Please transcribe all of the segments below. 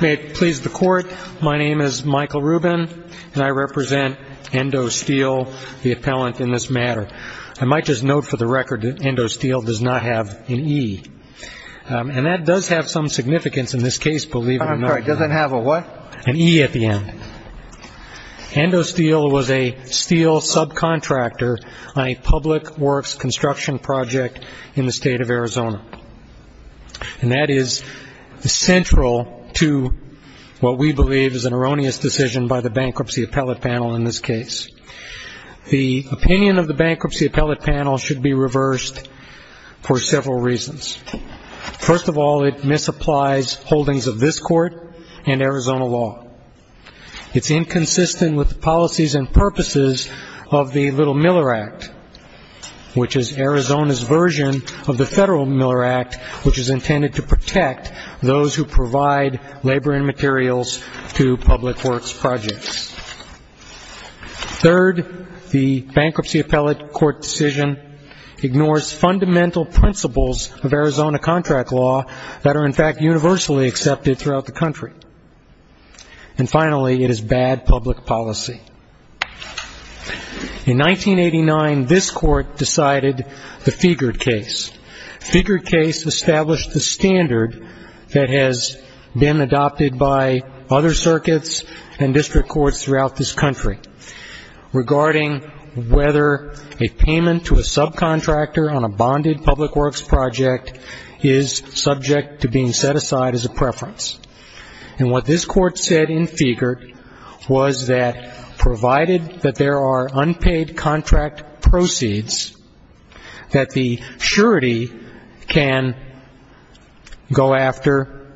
May it please the Court, my name is Michael Rubin, and I represent Endo Steel, the appellant in this matter. I might just note for the record that Endo Steel does not have an E. And that does have some significance in this case, believe it or not. I'm sorry, it doesn't have a what? An E at the end. Endo Steel was a steel subcontractor on a public works construction project in the state of Arizona. And that is central to what we believe is an erroneous decision by the Bankruptcy Appellate Panel in this case. The opinion of the Bankruptcy Appellate Panel should be reversed for several reasons. First of all, it misapplies holdings of this Court and Arizona law. It's inconsistent with the policies and purposes of the Little-Miller Act, which is Arizona's version of the Federal Miller Act, which is intended to protect those who provide labor and materials to public works projects. Third, the Bankruptcy Appellate Court decision ignores fundamental principles of Arizona contract law that are, in fact, universally accepted throughout the country. And finally, it is bad public policy. In 1989, this Court decided the Fiegert case. Fiegert case established the standard that has been adopted by other circuits and district courts throughout this country regarding whether a payment to a subcontractor on a bonded public works project is subject to being set aside as a preference. And what this Court said in Fiegert was that provided that there are unpaid contract proceeds that the surety can go after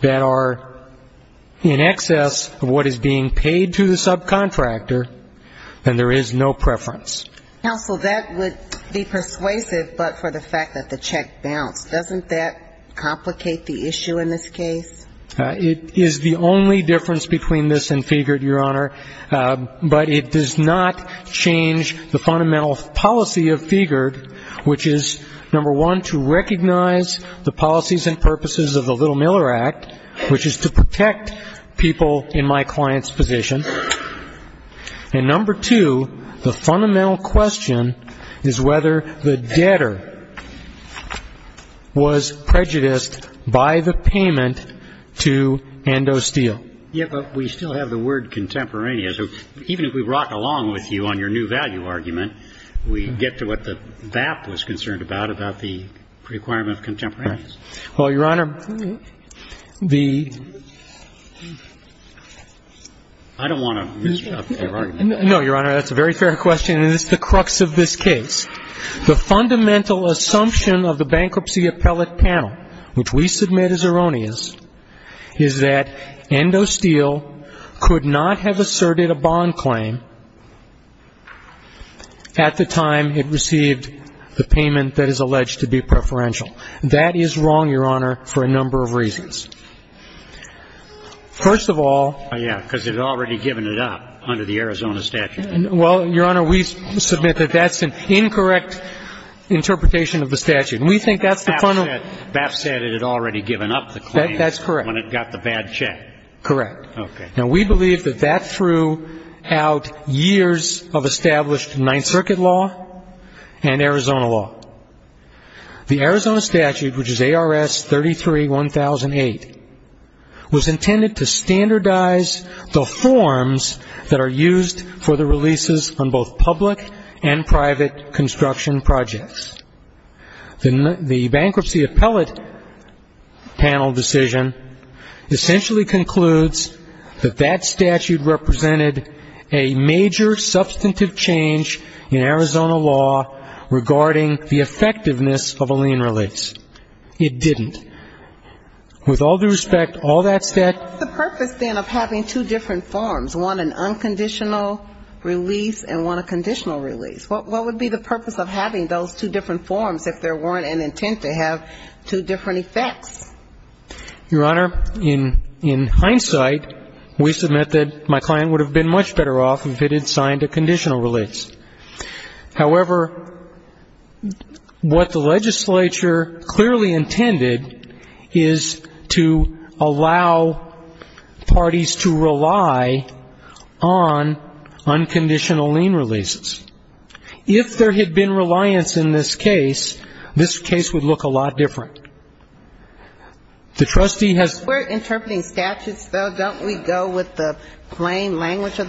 that are in excess of what is being paid to the subcontractor, then there is no preference. Counsel, that would be persuasive, but for the fact that the check bounced. Doesn't that complicate the issue in this case? It is the only difference between this and Fiegert, Your Honor. But it does not change the fundamental policy of Fiegert, which is, number one, to recognize the policies and purposes of the Little-Miller Act, which is to protect people in my client's position. And number two, the fundamental question is whether the debtor was prejudiced by the payment to Ando Steele. Yes, but we still have the word contemporaneous. Even if we rock along with you on your new value argument, we get to what the BAP was concerned about, about the requirement of contemporaneous. Well, Your Honor, the ---- I don't want to misrepresent your argument. No, Your Honor, that's a very fair question, and it's the crux of this case. The fundamental assumption of the Bankruptcy Appellate Panel, which we submit is erroneous, is that Ando Steele could not have asserted a bond claim at the time it received the payment that is wrong, Your Honor, for a number of reasons. First of all ---- Yes, because it had already given it up under the Arizona statute. Well, Your Honor, we submit that that's an incorrect interpretation of the statute. We think that's the fundamental ---- BAP said it had already given up the claim when it got the bad check. That's correct. Correct. Okay. Now, we believe that that threw out years of established Ninth Circuit law and Arizona law. The Arizona statute, which is ARS 33-1008, was intended to standardize the forms that are used for the releases on both public and private construction projects. The Bankruptcy Appellate Panel decision essentially concludes that that statute represented a major substantive change in Arizona law regarding the effectiveness of a lien release. It didn't. With all due respect, all that said ---- What's the purpose, then, of having two different forms, one an unconditional release and one a conditional release? What would be the purpose of having those two different forms if there weren't an intent to have two different effects? Your Honor, in hindsight, we submit that my client would have been much better off if it had signed a conditional release. However, what the legislature clearly intended is to allow parties to rely on unconditional lien releases. If there had been reliance in this case, this case would look a lot different. The trustee has ---- Your Honor, in the language of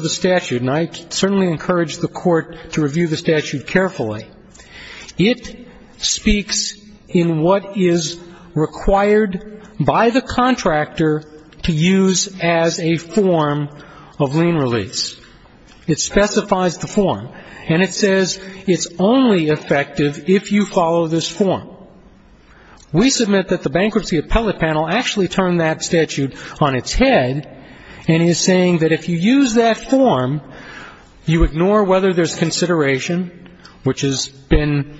the statute, and I certainly encourage the Court to review the statute carefully, it speaks in what is required by the contractor to use as a form of lien release. It specifies the form, and it says it's only effective if you follow this form. We submit that the Bankruptcy Appellate Panel actually turned that statute on its head and is saying that if you use that form, you ignore whether there's consideration, which has been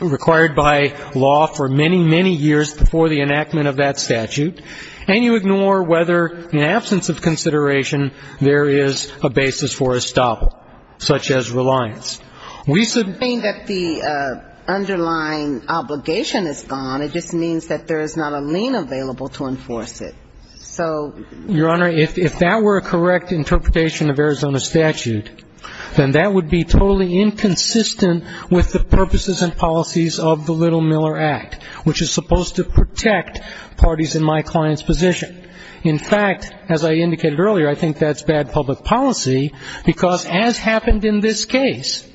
required by law for many, many years before the enactment of that statute, and you ignore whether in absence of consideration there is a basis for estoppel, such as reliance. We submit that the underlying obligation is gone. It just means that there is not a lien available to enforce it. So ---- Your Honor, if that were a correct interpretation of Arizona statute, then that would be totally inconsistent with the purposes and policies of the Little-Miller Act, which is supposed to protect parties in my client's position. In fact, as I indicated earlier, I think that's bad public policy, because as happened in this case,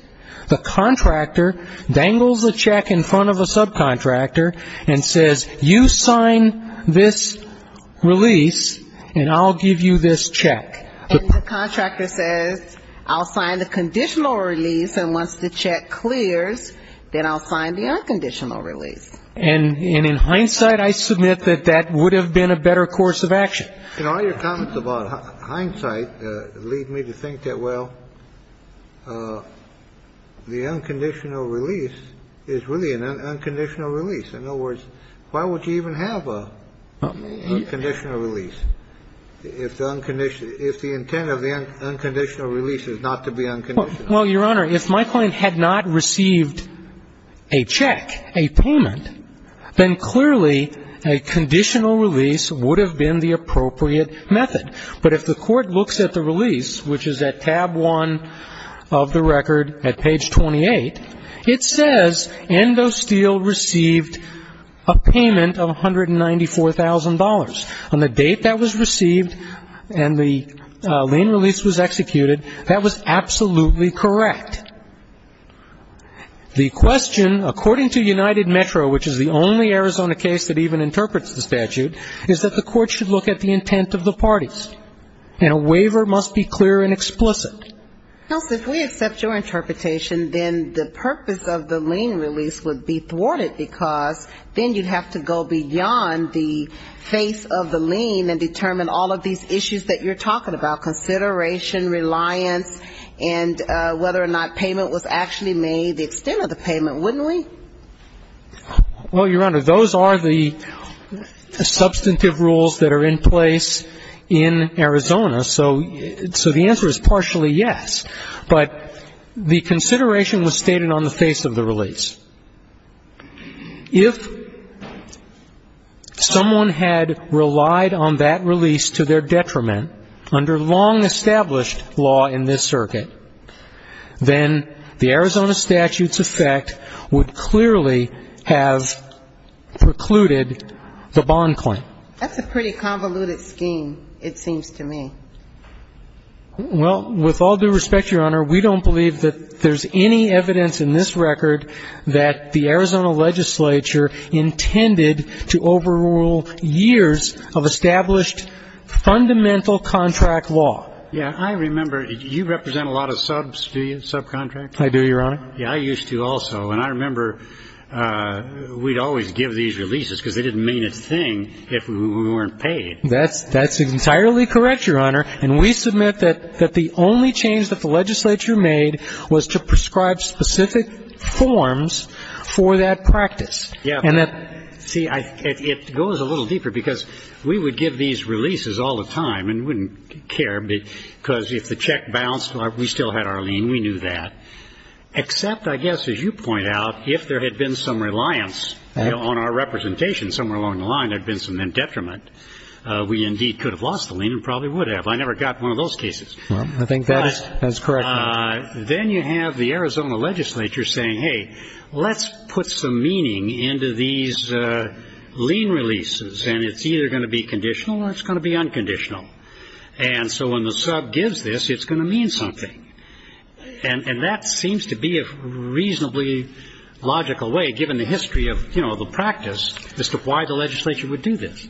the contractor dangles a check in front of a subcontractor and says, you sign this release, and I'll give you this check. And the contractor says, I'll sign the conditional release, and once the check clears, then I'll sign the unconditional release. And in hindsight, I submit that that would have been a better course of action. And all your comments about hindsight lead me to think that, well, the unconditional release is really an unconditional release. In other words, why would you even have a conditional release if the intent of the unconditional release is not to be unconditional? Well, Your Honor, if my client had not received a check, a payment, then clearly a conditional release would have been the appropriate method. But if the Court looks at the release, which is at tab 1 of the record at page 28, it says Endo Steel received a payment of $194,000. On the date that was received and the lien release was executed, that was absolutely correct. The question, according to United Metro, which is the only Arizona case that even interprets the statute, is that the Court should look at the intent of the parties. And a waiver must be clear and explicit. Now, if we accept your interpretation, then the purpose of the lien release would be thwarted, because then you'd have to go beyond the face of the lien and determine all of these issues that you're talking about, consideration, reliance, and whether or not payment was actually made, the extent of the payment, wouldn't we? Well, Your Honor, those are the substantive rules that are in place in Arizona. So the answer is partially yes. But the consideration was stated on the face of the release. If someone had relied on that release to their detriment under long-established law in this circuit, then the Arizona statute's effect would clearly have precluded the bond claim. That's a pretty convoluted scheme, it seems to me. Well, with all due respect, Your Honor, we don't believe that there's any evidence in this record that the Arizona legislature intended to overrule years of established fundamental contract law. Yeah, I remember. You represent a lot of subcontractors? I do, Your Honor. Yeah, I used to also. And I remember we'd always give these releases because they didn't mean a thing if we weren't paid. That's entirely correct, Your Honor. And we submit that the only change that the legislature made was to prescribe specific forms for that practice. Yeah. And that see, it goes a little deeper because we would give these releases all the time and wouldn't care because if the check bounced, we still had our lien. We knew that. Except I guess, as you point out, if there had been some reliance on our representation somewhere along the line, there'd been some detriment, we indeed could have lost the lien and probably would have. I never got one of those cases. I think that is correct. But then you have the Arizona legislature saying, hey, let's put some meaning into these lien releases. And it's either going to be conditional or it's going to be unconditional. And so when the sub gives this, it's going to mean something. And that seems to be a reasonably logical way, given the history of, you know, the practice, as to why the legislature would do this.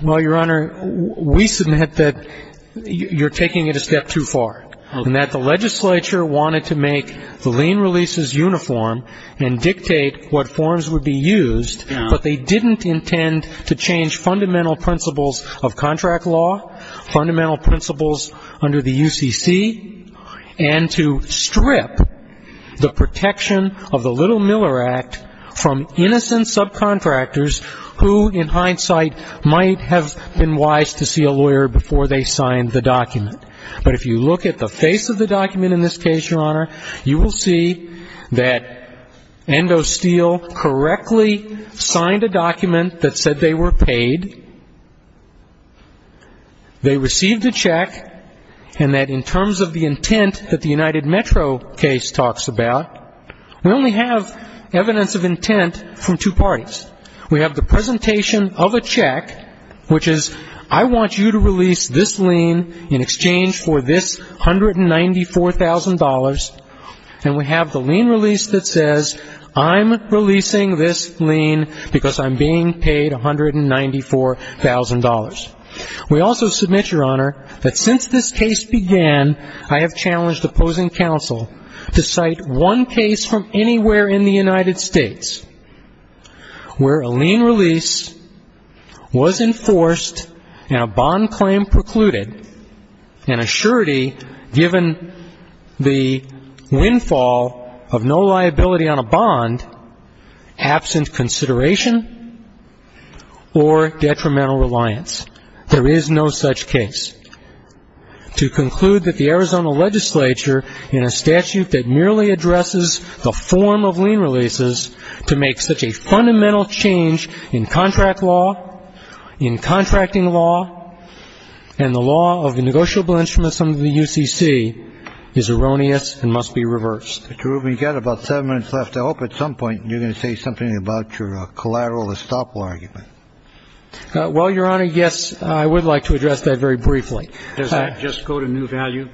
Well, Your Honor, we submit that you're taking it a step too far. And that the legislature wanted to make the lien releases uniform and dictate what forms would be used, but they didn't intend to change fundamental principles of contract law, fundamental principles under the UCC, and to strip the protection of the Little-Miller Act from innocent subcontractors who, in hindsight, might have been wise to see a lawyer before they signed the document. But if you look at the face of the document in this case, Your Honor, you will see that Endo Steele correctly signed a document that said they were paid, they received a check, and that in terms of the intent that the United Metro case talks about, we only have evidence of intent from two parties. We have the presentation of a check, which is, I want you to release this lien in exchange for this $194,000. And we have the lien release that says, I'm releasing this lien because I'm being paid $194,000. We also submit, Your Honor, that since this case began, I have challenged opposing counsel to cite one case from anywhere in the United States where a lien release was enforced and a bond claim precluded, and a surety given the windfall of no liability on a bond, absent consideration or detrimental reliance. There is no such case. To conclude that the Arizona legislature, in a statute that merely addresses the form of lien releases, to make such a fundamental change in contract law, in contracting law, and the law of the negotiable instruments under the UCC, is erroneous and must be reversed. Mr. Rubin, you've got about seven minutes left. I hope at some point you're going to say something about your collateral estoppel argument. Well, Your Honor, yes, I would like to address that very briefly. Does that just go to new value?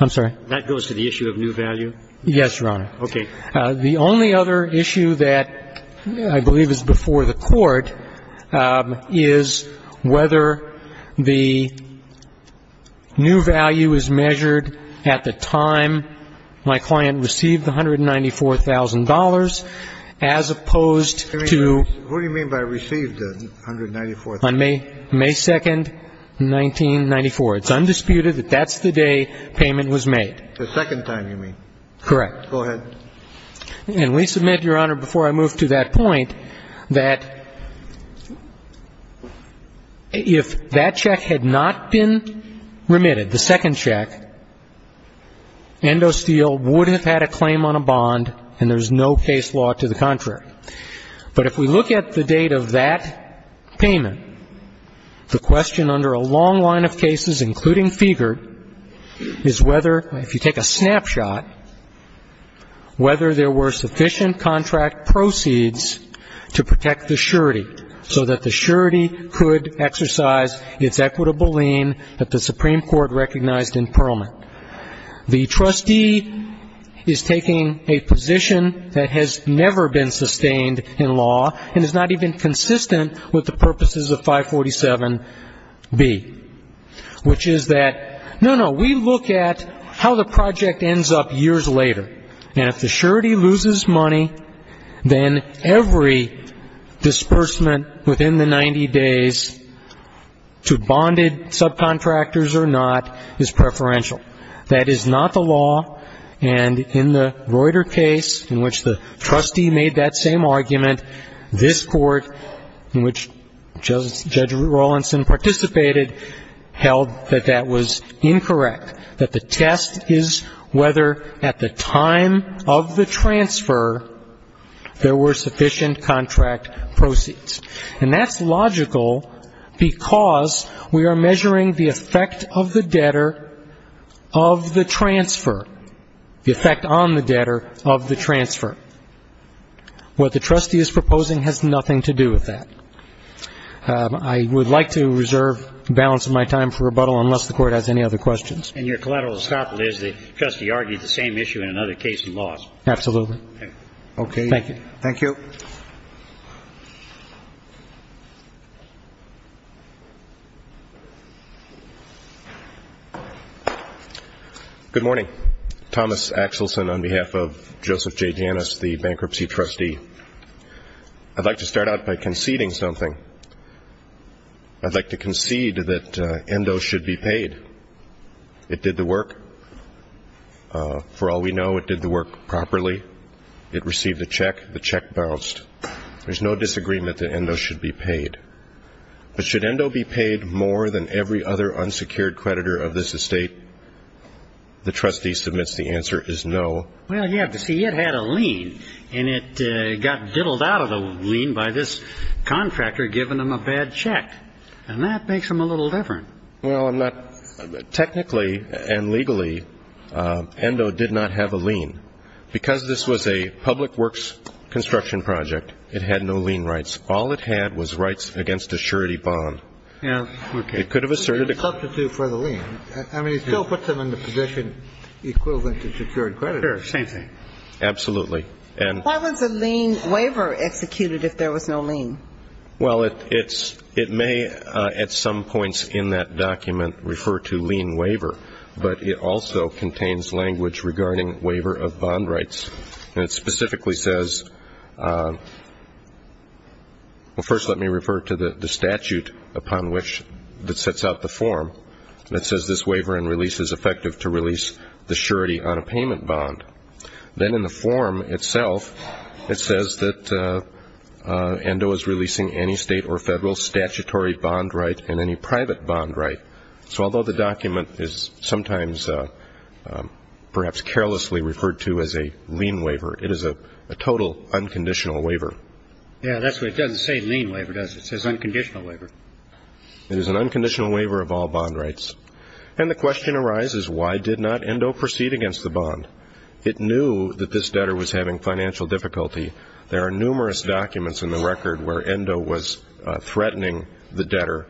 I'm sorry? That goes to the issue of new value? Yes, Your Honor. Okay. The only other issue that I believe is before the Court is whether the new value is measured at the time my client received the $194,000, as opposed to the time my client received the $194,000. On May 2nd, 1994. It's undisputed that that's the day payment was made. The second time, you mean? Correct. Go ahead. And we submit, Your Honor, before I move to that point, that if that check had not been remitted, the second check, Endo Steel would have had a claim on a bond, and there's no case law to the contrary. But if we look at the date of that payment, the question under a long line of cases, including Fiegert, is whether, if you take a snapshot, whether there were sufficient contract proceeds to protect the surety, so that the surety could exercise its equitable lien that the Supreme Court recognized in Perelman. The trustee is taking a position that has never been sustained in law, and is not even consistent with the purposes of 547B, which is that, no, no, we look at how the project ends up years later, and if the surety loses money, then every disbursement within the year, that is not the law. And in the Reuter case, in which the trustee made that same argument, this Court, in which Judge Rawlinson participated, held that that was incorrect, that the test is whether, at the time of the transfer, there were sufficient contract proceeds. And that's logical, because we are measuring the effect of the debtor of the transfer, the effect on the debtor of the transfer. What the trustee is proposing has nothing to do with that. I would like to reserve the balance of my time for rebuttal, unless the Court has any other questions. And your collateral is not, Liz, the trustee argued the same issue in another case in laws? Absolutely. Okay. Thank you. Thank you. Good morning. Thomas Axelson on behalf of Joseph J. Janus, the bankruptcy trustee. I'd like to start out by conceding something. I'd like to concede that ENDO should be paid. It did the work. For all we know, it did the work properly. It received a check. The check bounced. There's no disagreement that ENDO should be paid. But should ENDO be paid more than every other unsecured creditor of this estate? The trustee submits the answer is no. Well, you have to see, it had a lien, and it got diddled out of the lien by this contractor, giving him a bad check. And that makes him a little different. Well, I'm not – technically and legally, ENDO did not have a lien. Because this was a public works construction project, it had no lien rights. All it had was rights against a surety bond. Yes. It could have asserted a – Substitute for the lien. I mean, it still puts him in the position equivalent to secured creditors. Sure. Same thing. Absolutely. And – Why was a lien waiver executed if there was no lien? Well, it's – it may at some points in that document refer to lien waiver. But it also contains language regarding waiver of bond rights. And it specifically says – well, first let me refer to the statute upon which – that sets out the form that says this waiver and release is effective to release the surety on a payment bond. Then in the document, it states that this waiver is effective to release any state or federal statutory bond right and any private bond right. So although the document is sometimes perhaps carelessly referred to as a lien waiver, it is a total unconditional waiver. Yes. That's why it doesn't say lien waiver, does it? It says unconditional waiver. It is an unconditional waiver of all bond rights. And the question arises, why did not ENDO proceed against the bond? It knew that this debtor was having financial difficulty. There are numerous documents in the record where ENDO was threatening the debtor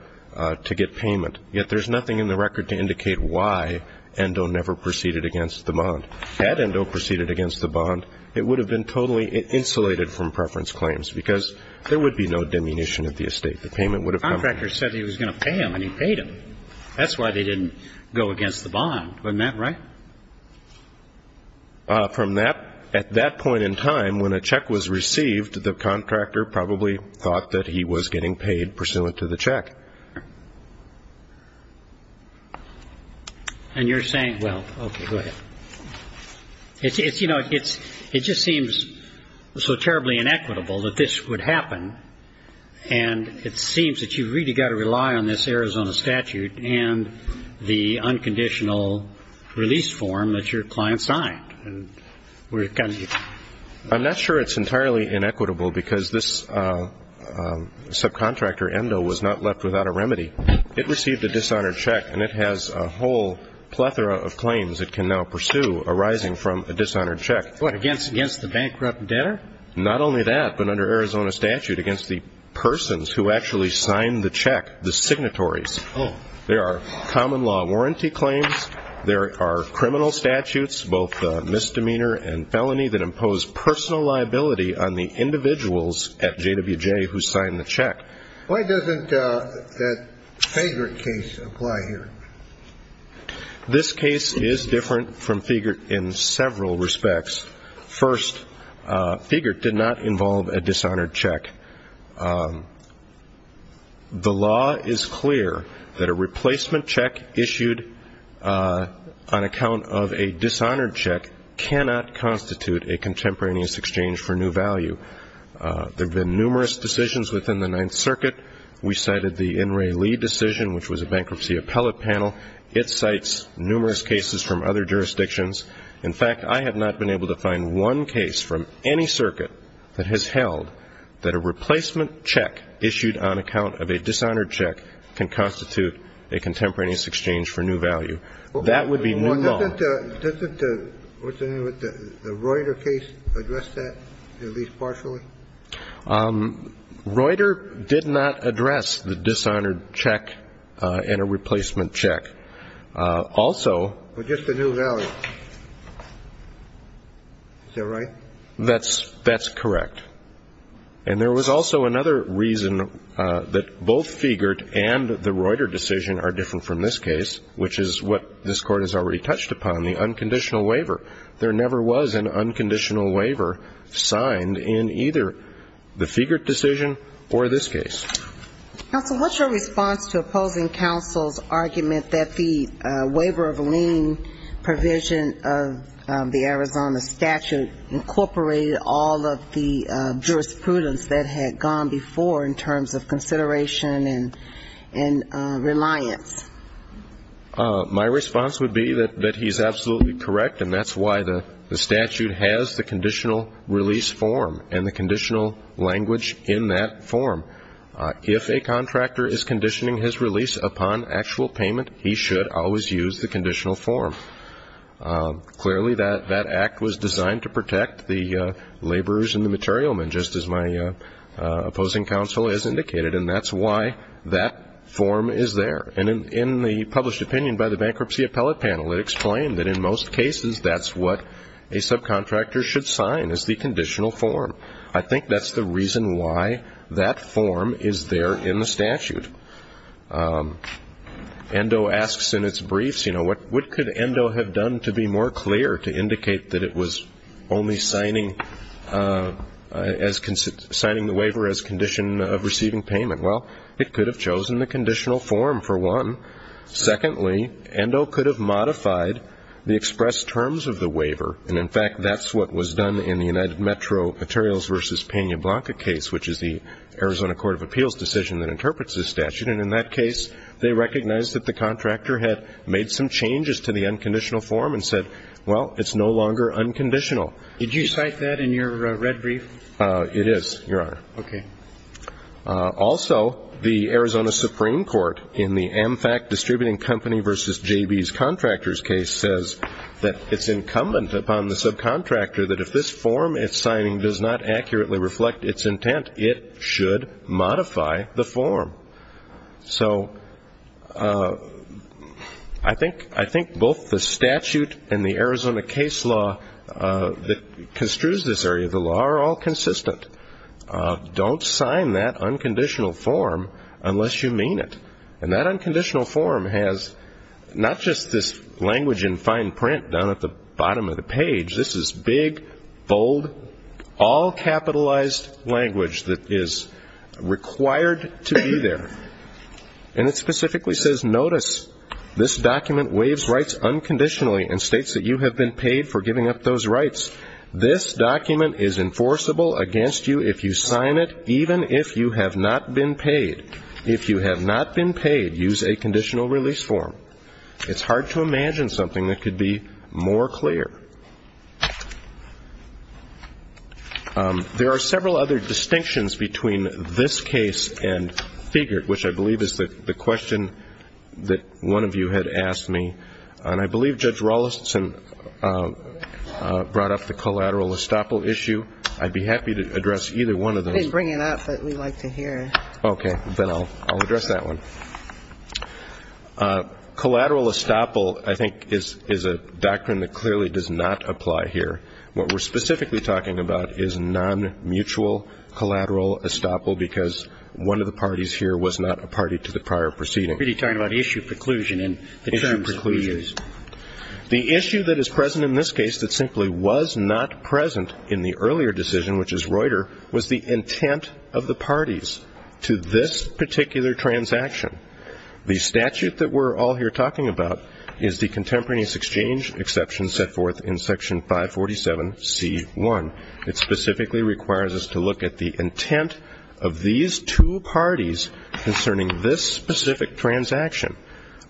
to get payment. Yet there's nothing in the record to indicate why ENDO never proceeded against the bond. Had ENDO proceeded against the bond, it would have been totally insulated from preference claims because there would be no diminution of the estate. The payment would have come from the bond. The contractor said he was going to pay him, and he paid him. That's why they didn't go against the bond. Isn't that right? From that, at that point in time, when a check was received, the contractor probably thought that he was getting paid pursuant to the check. And you're saying, well, okay, go ahead. It's, you know, it just seems so terribly inequitable that this would happen, and it seems that you've really got to rely on this Arizona statute and the unconditional release form that your client signed. I'm not sure it's entirely inequitable because this subcontractor, ENDO, was not left without a remedy. It received a dishonored check, and it has a whole plethora of claims it can now pursue arising from a dishonored check. What, against the bankrupt debtor? Not only that, but under Arizona statute, against the persons who actually signed the check, the signatories, there are common law warranty claims, there are criminal statutes, both misdemeanor and felony, that impose personal liability on the individuals at JWJ who signed the check. Why doesn't that Figert case apply here? This case is different from Figert in several respects. First, Figert did not involve a dishonored check. The law is clear that a replacement check issued on account of a dishonored check cannot constitute a contemporaneous exchange for new value. There have been numerous decisions within the Ninth Circuit. We cited the N. Ray Lee decision, which was a bankruptcy appellate panel. It cites numerous cases from other jurisdictions. In fact, I have not been able to find one case from any circuit that has cited a dishonored check as a contemporaneous exchange for new value. That would be new law. Well, doesn't the Reuter case address that, at least partially? Reuter did not address the dishonored check and a replacement check. Also… But just the new value. Is that right? That's correct. And there was also another reason that both Figert and the Reuter decision are different from this case, which is what this Court has already touched upon, the unconditional waiver. There never was an unconditional waiver signed in either the Figert decision or this case. Counsel, what's your response to opposing counsel's argument that the waiver of lien provision of the Arizona statute incorporated all of the jurisprudence that had gone before in terms of consideration and reliance? My response would be that he's absolutely correct, and that's why the statute has the conditional release form and the conditional language in that form. If a contractor is a contractor, clearly that act was designed to protect the laborers and the material men, just as my opposing counsel has indicated, and that's why that form is there. And in the published opinion by the Bankruptcy Appellate Panel, it explained that in most cases that's what a subcontractor should sign, is the conditional form. I think that's the case. Endo asks in its briefs, you know, what could Endo have done to be more clear to indicate that it was only signing the waiver as a condition of receiving payment? Well, it could have chosen the conditional form, for one. Secondly, Endo could have modified the expressed terms of the waiver, and, in fact, that's what was done in the United Metro Materials v. Pena Blanca case, which is the Arizona Court of Appeals decision that interprets this statute. And in that case, they recognized that the contractor had made some changes to the unconditional form and said, well, it's no longer unconditional. Did you cite that in your red brief? It is, Your Honor. Okay. Also, the Arizona Supreme Court, in the AmFact Distributing Company v. J.B.'s Contractors case, says that it's incumbent upon the subcontractor that if this form it's signing does not accurately reflect its intent, it should modify the form. So I think both the statute and the Arizona case law that construes this area of the law are all consistent. Don't sign that unconditional form unless you mean it. And that unconditional form has not just this language in fine print down at the bottom of the page. This is big, bold all-capitalized language that is required to be there. And it specifically says, notice, this document waives rights unconditionally and states that you have been paid for giving up those rights. This document is enforceable against you if you sign it, even if you have not been paid. If you have not been paid, use a conditional release form. It's hard to imagine something that could be more clear. There are several other distinctions between this case and Figert, which I believe is the question that one of you had asked me. And I believe Judge Raulston brought up the collateral estoppel issue. I'd be happy to address either one of those. I didn't bring it up, but we like to hear it. Okay. Then I'll address that one. Collateral estoppel, I think, is a doctrine that is non-mutual collateral estoppel because one of the parties here was not a party to the prior proceeding. But you're talking about issue preclusion and the terms that we use. Issue preclusion. The issue that is present in this case that simply was not present in the earlier decision, which is Reuter, was the intent of the parties to this particular transaction. The statute that we're all here talking about is the Contemporaneous Transaction, which specifically requires us to look at the intent of these two parties concerning this specific transaction.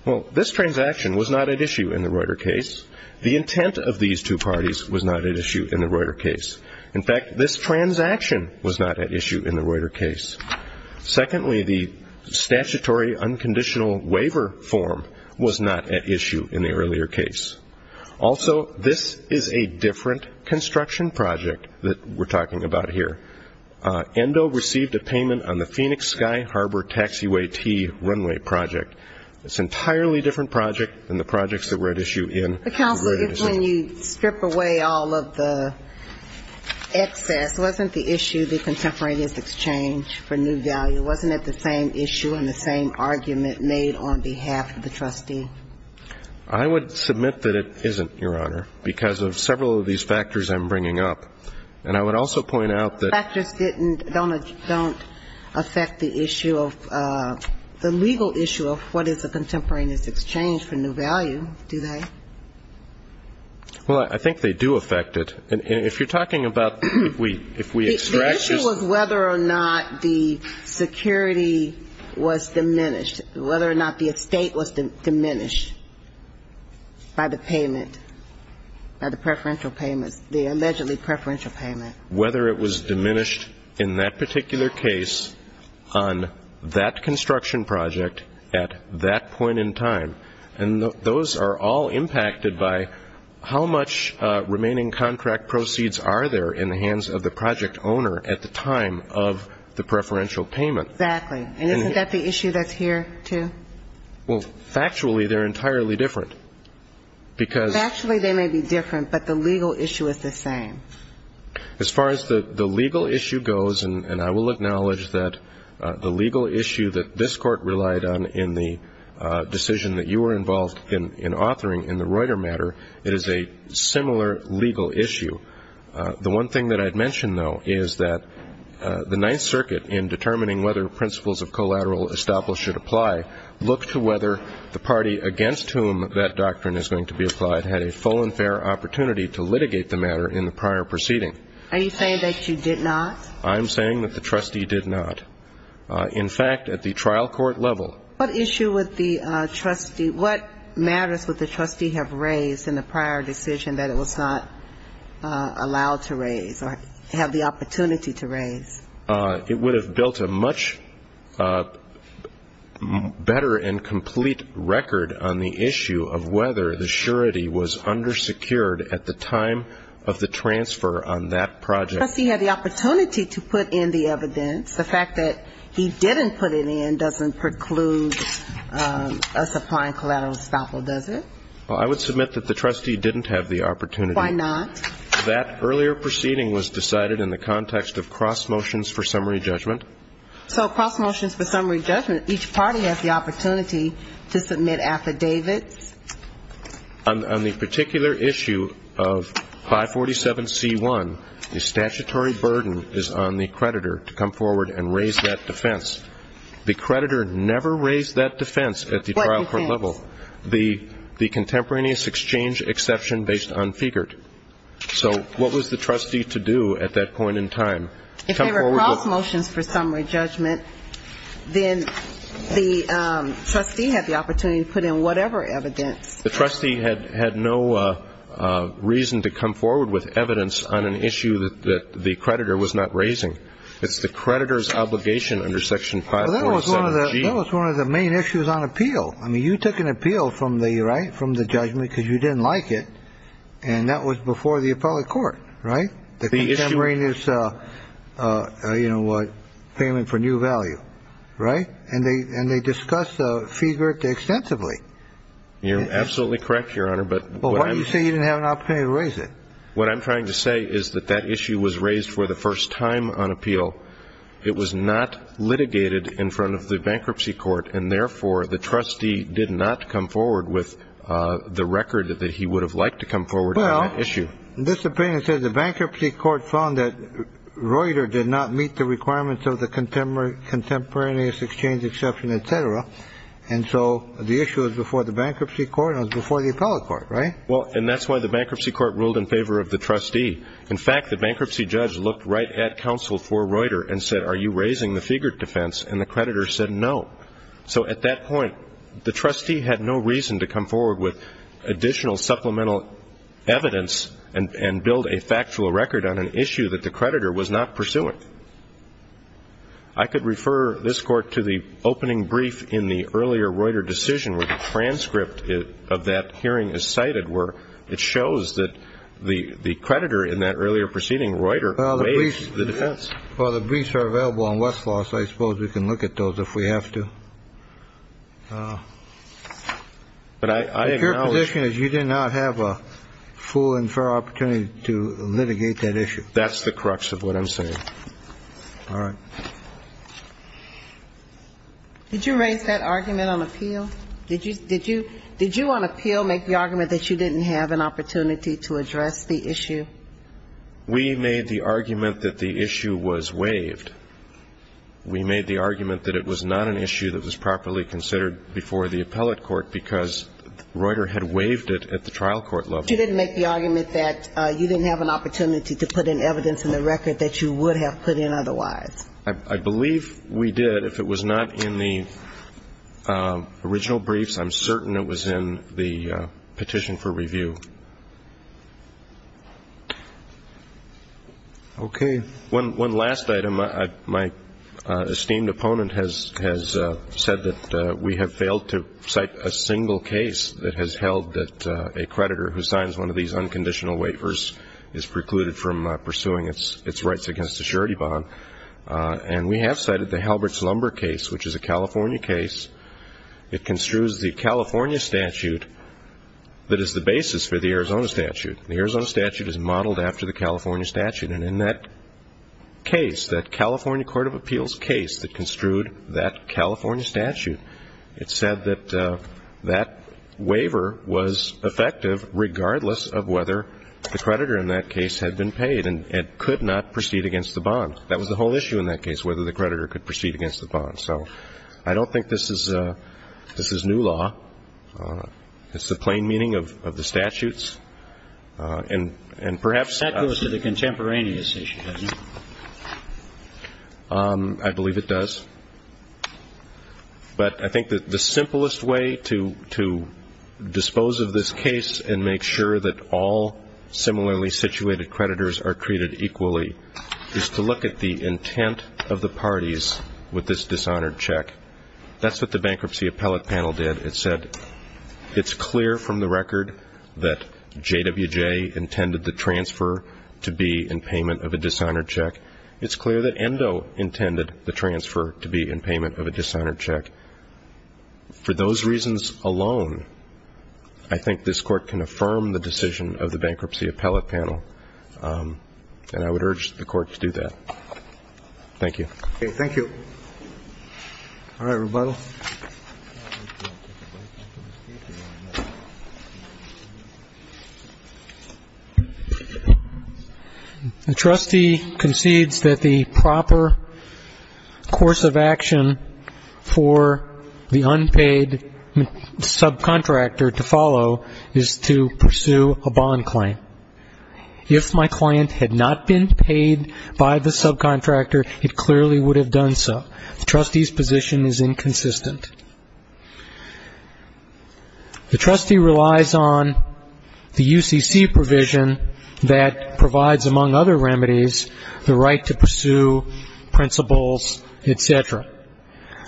Well, this transaction was not at issue in the Reuter case. The intent of these two parties was not at issue in the Reuter case. In fact, this transaction was not at issue in the Reuter case. Secondly, the statutory unconditional waiver form was not at issue in the earlier case. Also, this is a different construction project that we're talking about here. ENDO received a payment on the Phoenix Sky Harbor Taxiway T runway project. It's an entirely different project than the projects that were at issue in the Reuter decision. The counsel, when you strip away all of the excess, wasn't the issue the Contemporaneous Exchange for new value? Wasn't it the same issue and the same argument made on behalf of the trustee? I would submit that it isn't, Your Honor, because of several of these factors I'm bringing up. And I would also point out that the factors didn't, don't affect the issue of, the legal issue of what is a Contemporaneous Exchange for new value, do they? Well, I think they do affect it. And if you're talking about, if we extract just The issue was whether or not the security was diminished, whether or not the estate was diminished by the payment, by the preferential payments, the allegedly preferential payment. Whether it was diminished in that particular case on that construction project at that point in time. And those are all impacted by how much remaining contract proceeds are there in the hands of the project owner at the time of the preferential payment. Exactly. And isn't that the issue that's here, too? Well, factually, they're entirely different. Because. Factually, they may be different, but the legal issue is the same. As far as the legal issue goes, and I will acknowledge that the legal issue that this Court relied on in the decision that you were involved in authoring in the Reuter matter, it is a similar legal issue. The one thing that I'd mention, though, is that the Court, in determining whether principles of collateral estoppel should apply, looked to whether the party against whom that doctrine is going to be applied had a full and fair opportunity to litigate the matter in the prior proceeding. Are you saying that you did not? I'm saying that the trustee did not. In fact, at the trial court level. What issue would the trustee, what matters would the trustee have raised in the prior decision that it was not allowed to raise or have the opportunity to raise? It would have built a much better and complete record on the issue of whether the surety was undersecured at the time of the transfer on that project. The trustee had the opportunity to put in the evidence. The fact that he didn't put it in doesn't preclude us applying collateral estoppel, does it? Well, I would submit that the trustee didn't have the opportunity. Why not? That earlier proceeding was decided in the context of cross motions for summary judgment. So cross motions for summary judgment, each party has the opportunity to submit affidavits? On the particular issue of 547C1, the statutory burden is on the creditor to come forward and raise that defense. The creditor never raised that defense at the trial court level. The contemporaneous exchange exception based on Figuart. So what was the trustee to do at that point in time? If they were cross motions for summary judgment, then the trustee had the opportunity to put in whatever evidence. The trustee had no reason to come forward with evidence on an issue that the creditor was not raising. It's the creditor's responsibility to come forward with evidence on an issue that the creditor was not raising. So the contemporaneous payment for new value, right? And they discussed Figuart extensively. You're absolutely correct, Your Honor, but why do you say you didn't have an opportunity to raise it? What I'm trying to say is that that issue was raised for the first time on appeal. It was not litigated in front of the bankruptcy court, and therefore the trustee did not come forward with the record that he would have liked to come forward on that issue. Well, this opinion says the bankruptcy court found that Reuter did not meet the requirements of the contemporaneous exchange exception, et cetera. And so the issue is before the bankruptcy court and before the appellate court, right? Well, and that's why the bankruptcy court ruled in favor of the trustee. In fact, the bankruptcy judge looked right at counsel for Reuter and said, are you raising the Figuart defense? And the creditor said no. So at that point, the trustee had no reason to come forward with additional supplemental evidence and build a factual record on an issue that the creditor was not pursuing. I could refer this Court to the opening brief in the earlier Reuter decision where the transcript of that hearing is cited where it shows that the creditor in that earlier proceeding Reuter made the defense. Well, the briefs are available on Westlaw, so I suppose we can look at those if we have to. But I acknowledge. But your position is you did not have a full and fair opportunity to litigate that issue. That's the crux of what I'm saying. All right. Did you raise that argument on appeal? Did you on appeal make the argument that you didn't have an opportunity to address the issue? We made the argument that the issue was waived. We made the argument that it was not an issue that was properly considered before the appellate court because Reuter had waived it at the trial court level. You didn't make the argument that you didn't have an opportunity to put in evidence in the record that you would have put in otherwise. I believe we did. If it was not in the original briefs, I'm certain it was in the original briefs. Okay. One last item. My esteemed opponent has said that we have failed to cite a single case that has held that a creditor who signs one of these unconditional waivers is precluded from pursuing its rights against a surety bond. And we have cited the Halbert's Lumber case, which is a California case. It construes the California statute that is the basis for the Arizona statute. The Arizona statute is modeled after the California statute. And in that case, that California court of appeals case that construed that California statute, it said that that waiver was effective regardless of whether the creditor in that case had been paid and could not proceed against the bond. That was the whole issue in that case, whether the creditor could proceed against the bond. So I don't think this is new law. It's the plain meaning of the statutes. And perhaps That goes to the contemporaneous issue, doesn't it? I believe it does. But I think that the simplest way to dispose of this case and make sure that all similarly situated creditors are treated equally is to look at the intent of the parties with this dishonored check. That's what the bankruptcy appellate panel did. It said it's clear from the record that J.W.J. intended the transfer to be in payment of a dishonored check. It's clear that ENDO intended the transfer to be in payment of a dishonored check. For those reasons alone, I think this Court can affirm the decision of the bankruptcy appellate panel. And I would urge the Court to do that. Thank you. All right. Rebuttal. The trustee concedes that the proper course of action for the unpaid subcontractor to follow is to pursue a bond claim. If my judgment is correct, the trustee would have done so. The trustee's position is inconsistent. The trustee relies on the UCC provision that provides, among other remedies, the right to pursue principles, etc.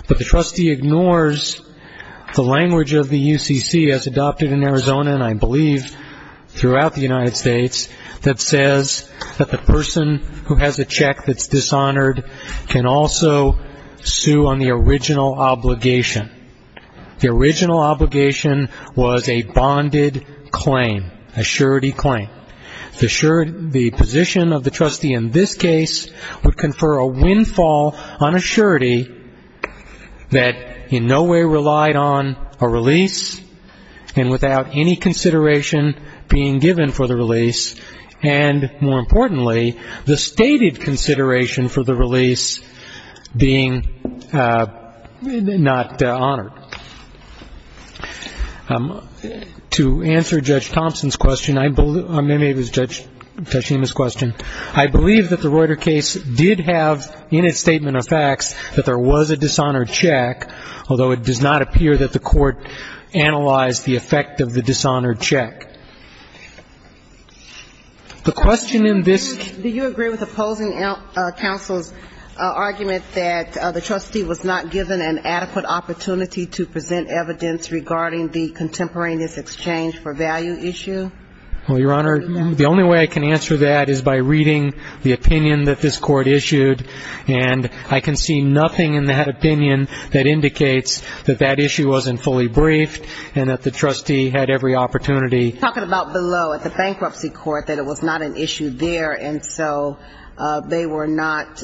But the trustee ignores the language of the UCC, as adopted in Arizona and I believe throughout the United States, that says that the person who has a check that's dishonored can also sue on the original obligation. The original obligation was a bonded claim, a surety claim. The position of the trustee in this case would confer a windfall on a surety that in no way relied on a release, and without any consideration being given for the release, and in no way relied on a bond claim. And more importantly, the stated consideration for the release being not honored. To answer Judge Thompson's question, or maybe it was Judge Tashima's question, I believe that the Reuter case did have in its statement of facts that there was a dishonored check, although it does not appear that the Court analyzed the effect of the bond claim. The question in this... Do you agree with opposing counsel's argument that the trustee was not given an adequate opportunity to present evidence regarding the contemporaneous exchange for value issue? Well, Your Honor, the only way I can answer that is by reading the opinion that this Court issued, and I can see nothing in that opinion that would be an issue there, and so they were not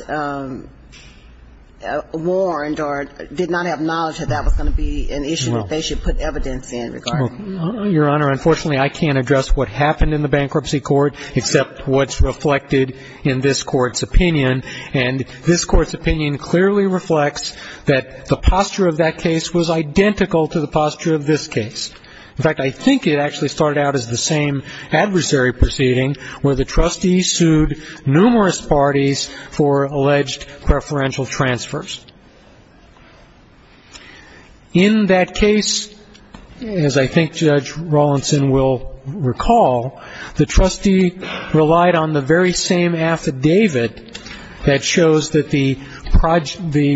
warned or did not have knowledge that that was going to be an issue that they should put evidence in regarding. Your Honor, unfortunately, I can't address what happened in the bankruptcy court except what's reflected in this Court's opinion, and this Court's opinion clearly reflects that the posture of that case was identical to the posture of this case. In fact, I think it actually started out as the same adversary proceeding where the trustee sued numerous parties for alleged preferential transfers. In that case, as I think Judge Rawlinson will recall, the trustee relied on the very same affidavit that shows that the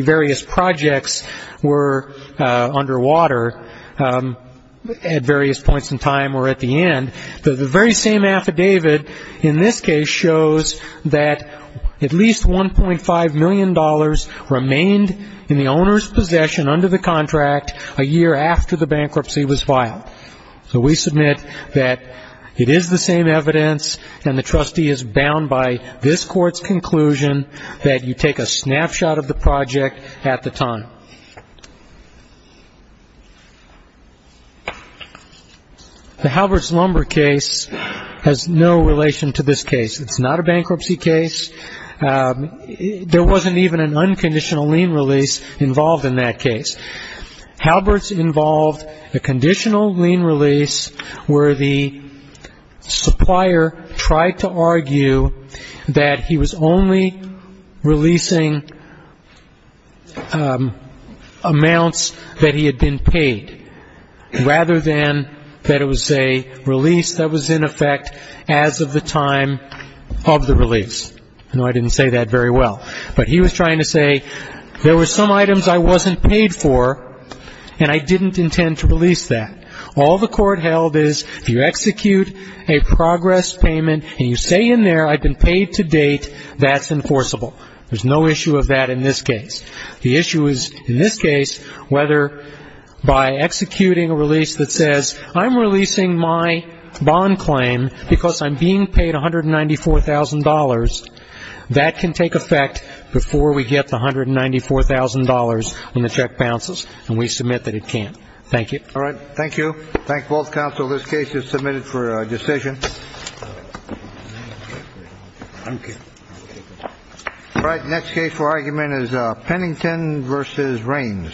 various projects were underwater at various points in time or at the end. The very same affidavit in this case shows that at least $1.5 million remained in the owner's possession under the contract a year after the bankruptcy was filed. So we submit that it is the same evidence, and the trustee is bound by this Court's conclusion that you take a snapshot of the project at the time. The Halbert's lumber case has no relation to this case. It's not a bankruptcy case. There wasn't even an unconditional lien release involved in that case. Halbert's involved a conditional lien release where the supplier tried to argue that he was only releasing amounts that he had been paid, rather than that it was a release that was in effect as of the time of the release. I know I didn't say that very well, but he was trying to say there were some items I wasn't paid for, and I didn't intend to release that. All the Court held is if you execute a progress payment and you say in there I've been paid to date, that's enforceable. The issue is in this case whether by executing a release that says I'm releasing my bond claim because I'm being paid $194,000, that can take effect before we get the $194,000 and the check bounces, and we submit that it can't. Thank you. All right. Thank you. Thank both counsel. This case is submitted for decision. All right. Next case for argument is Pennington versus Raines.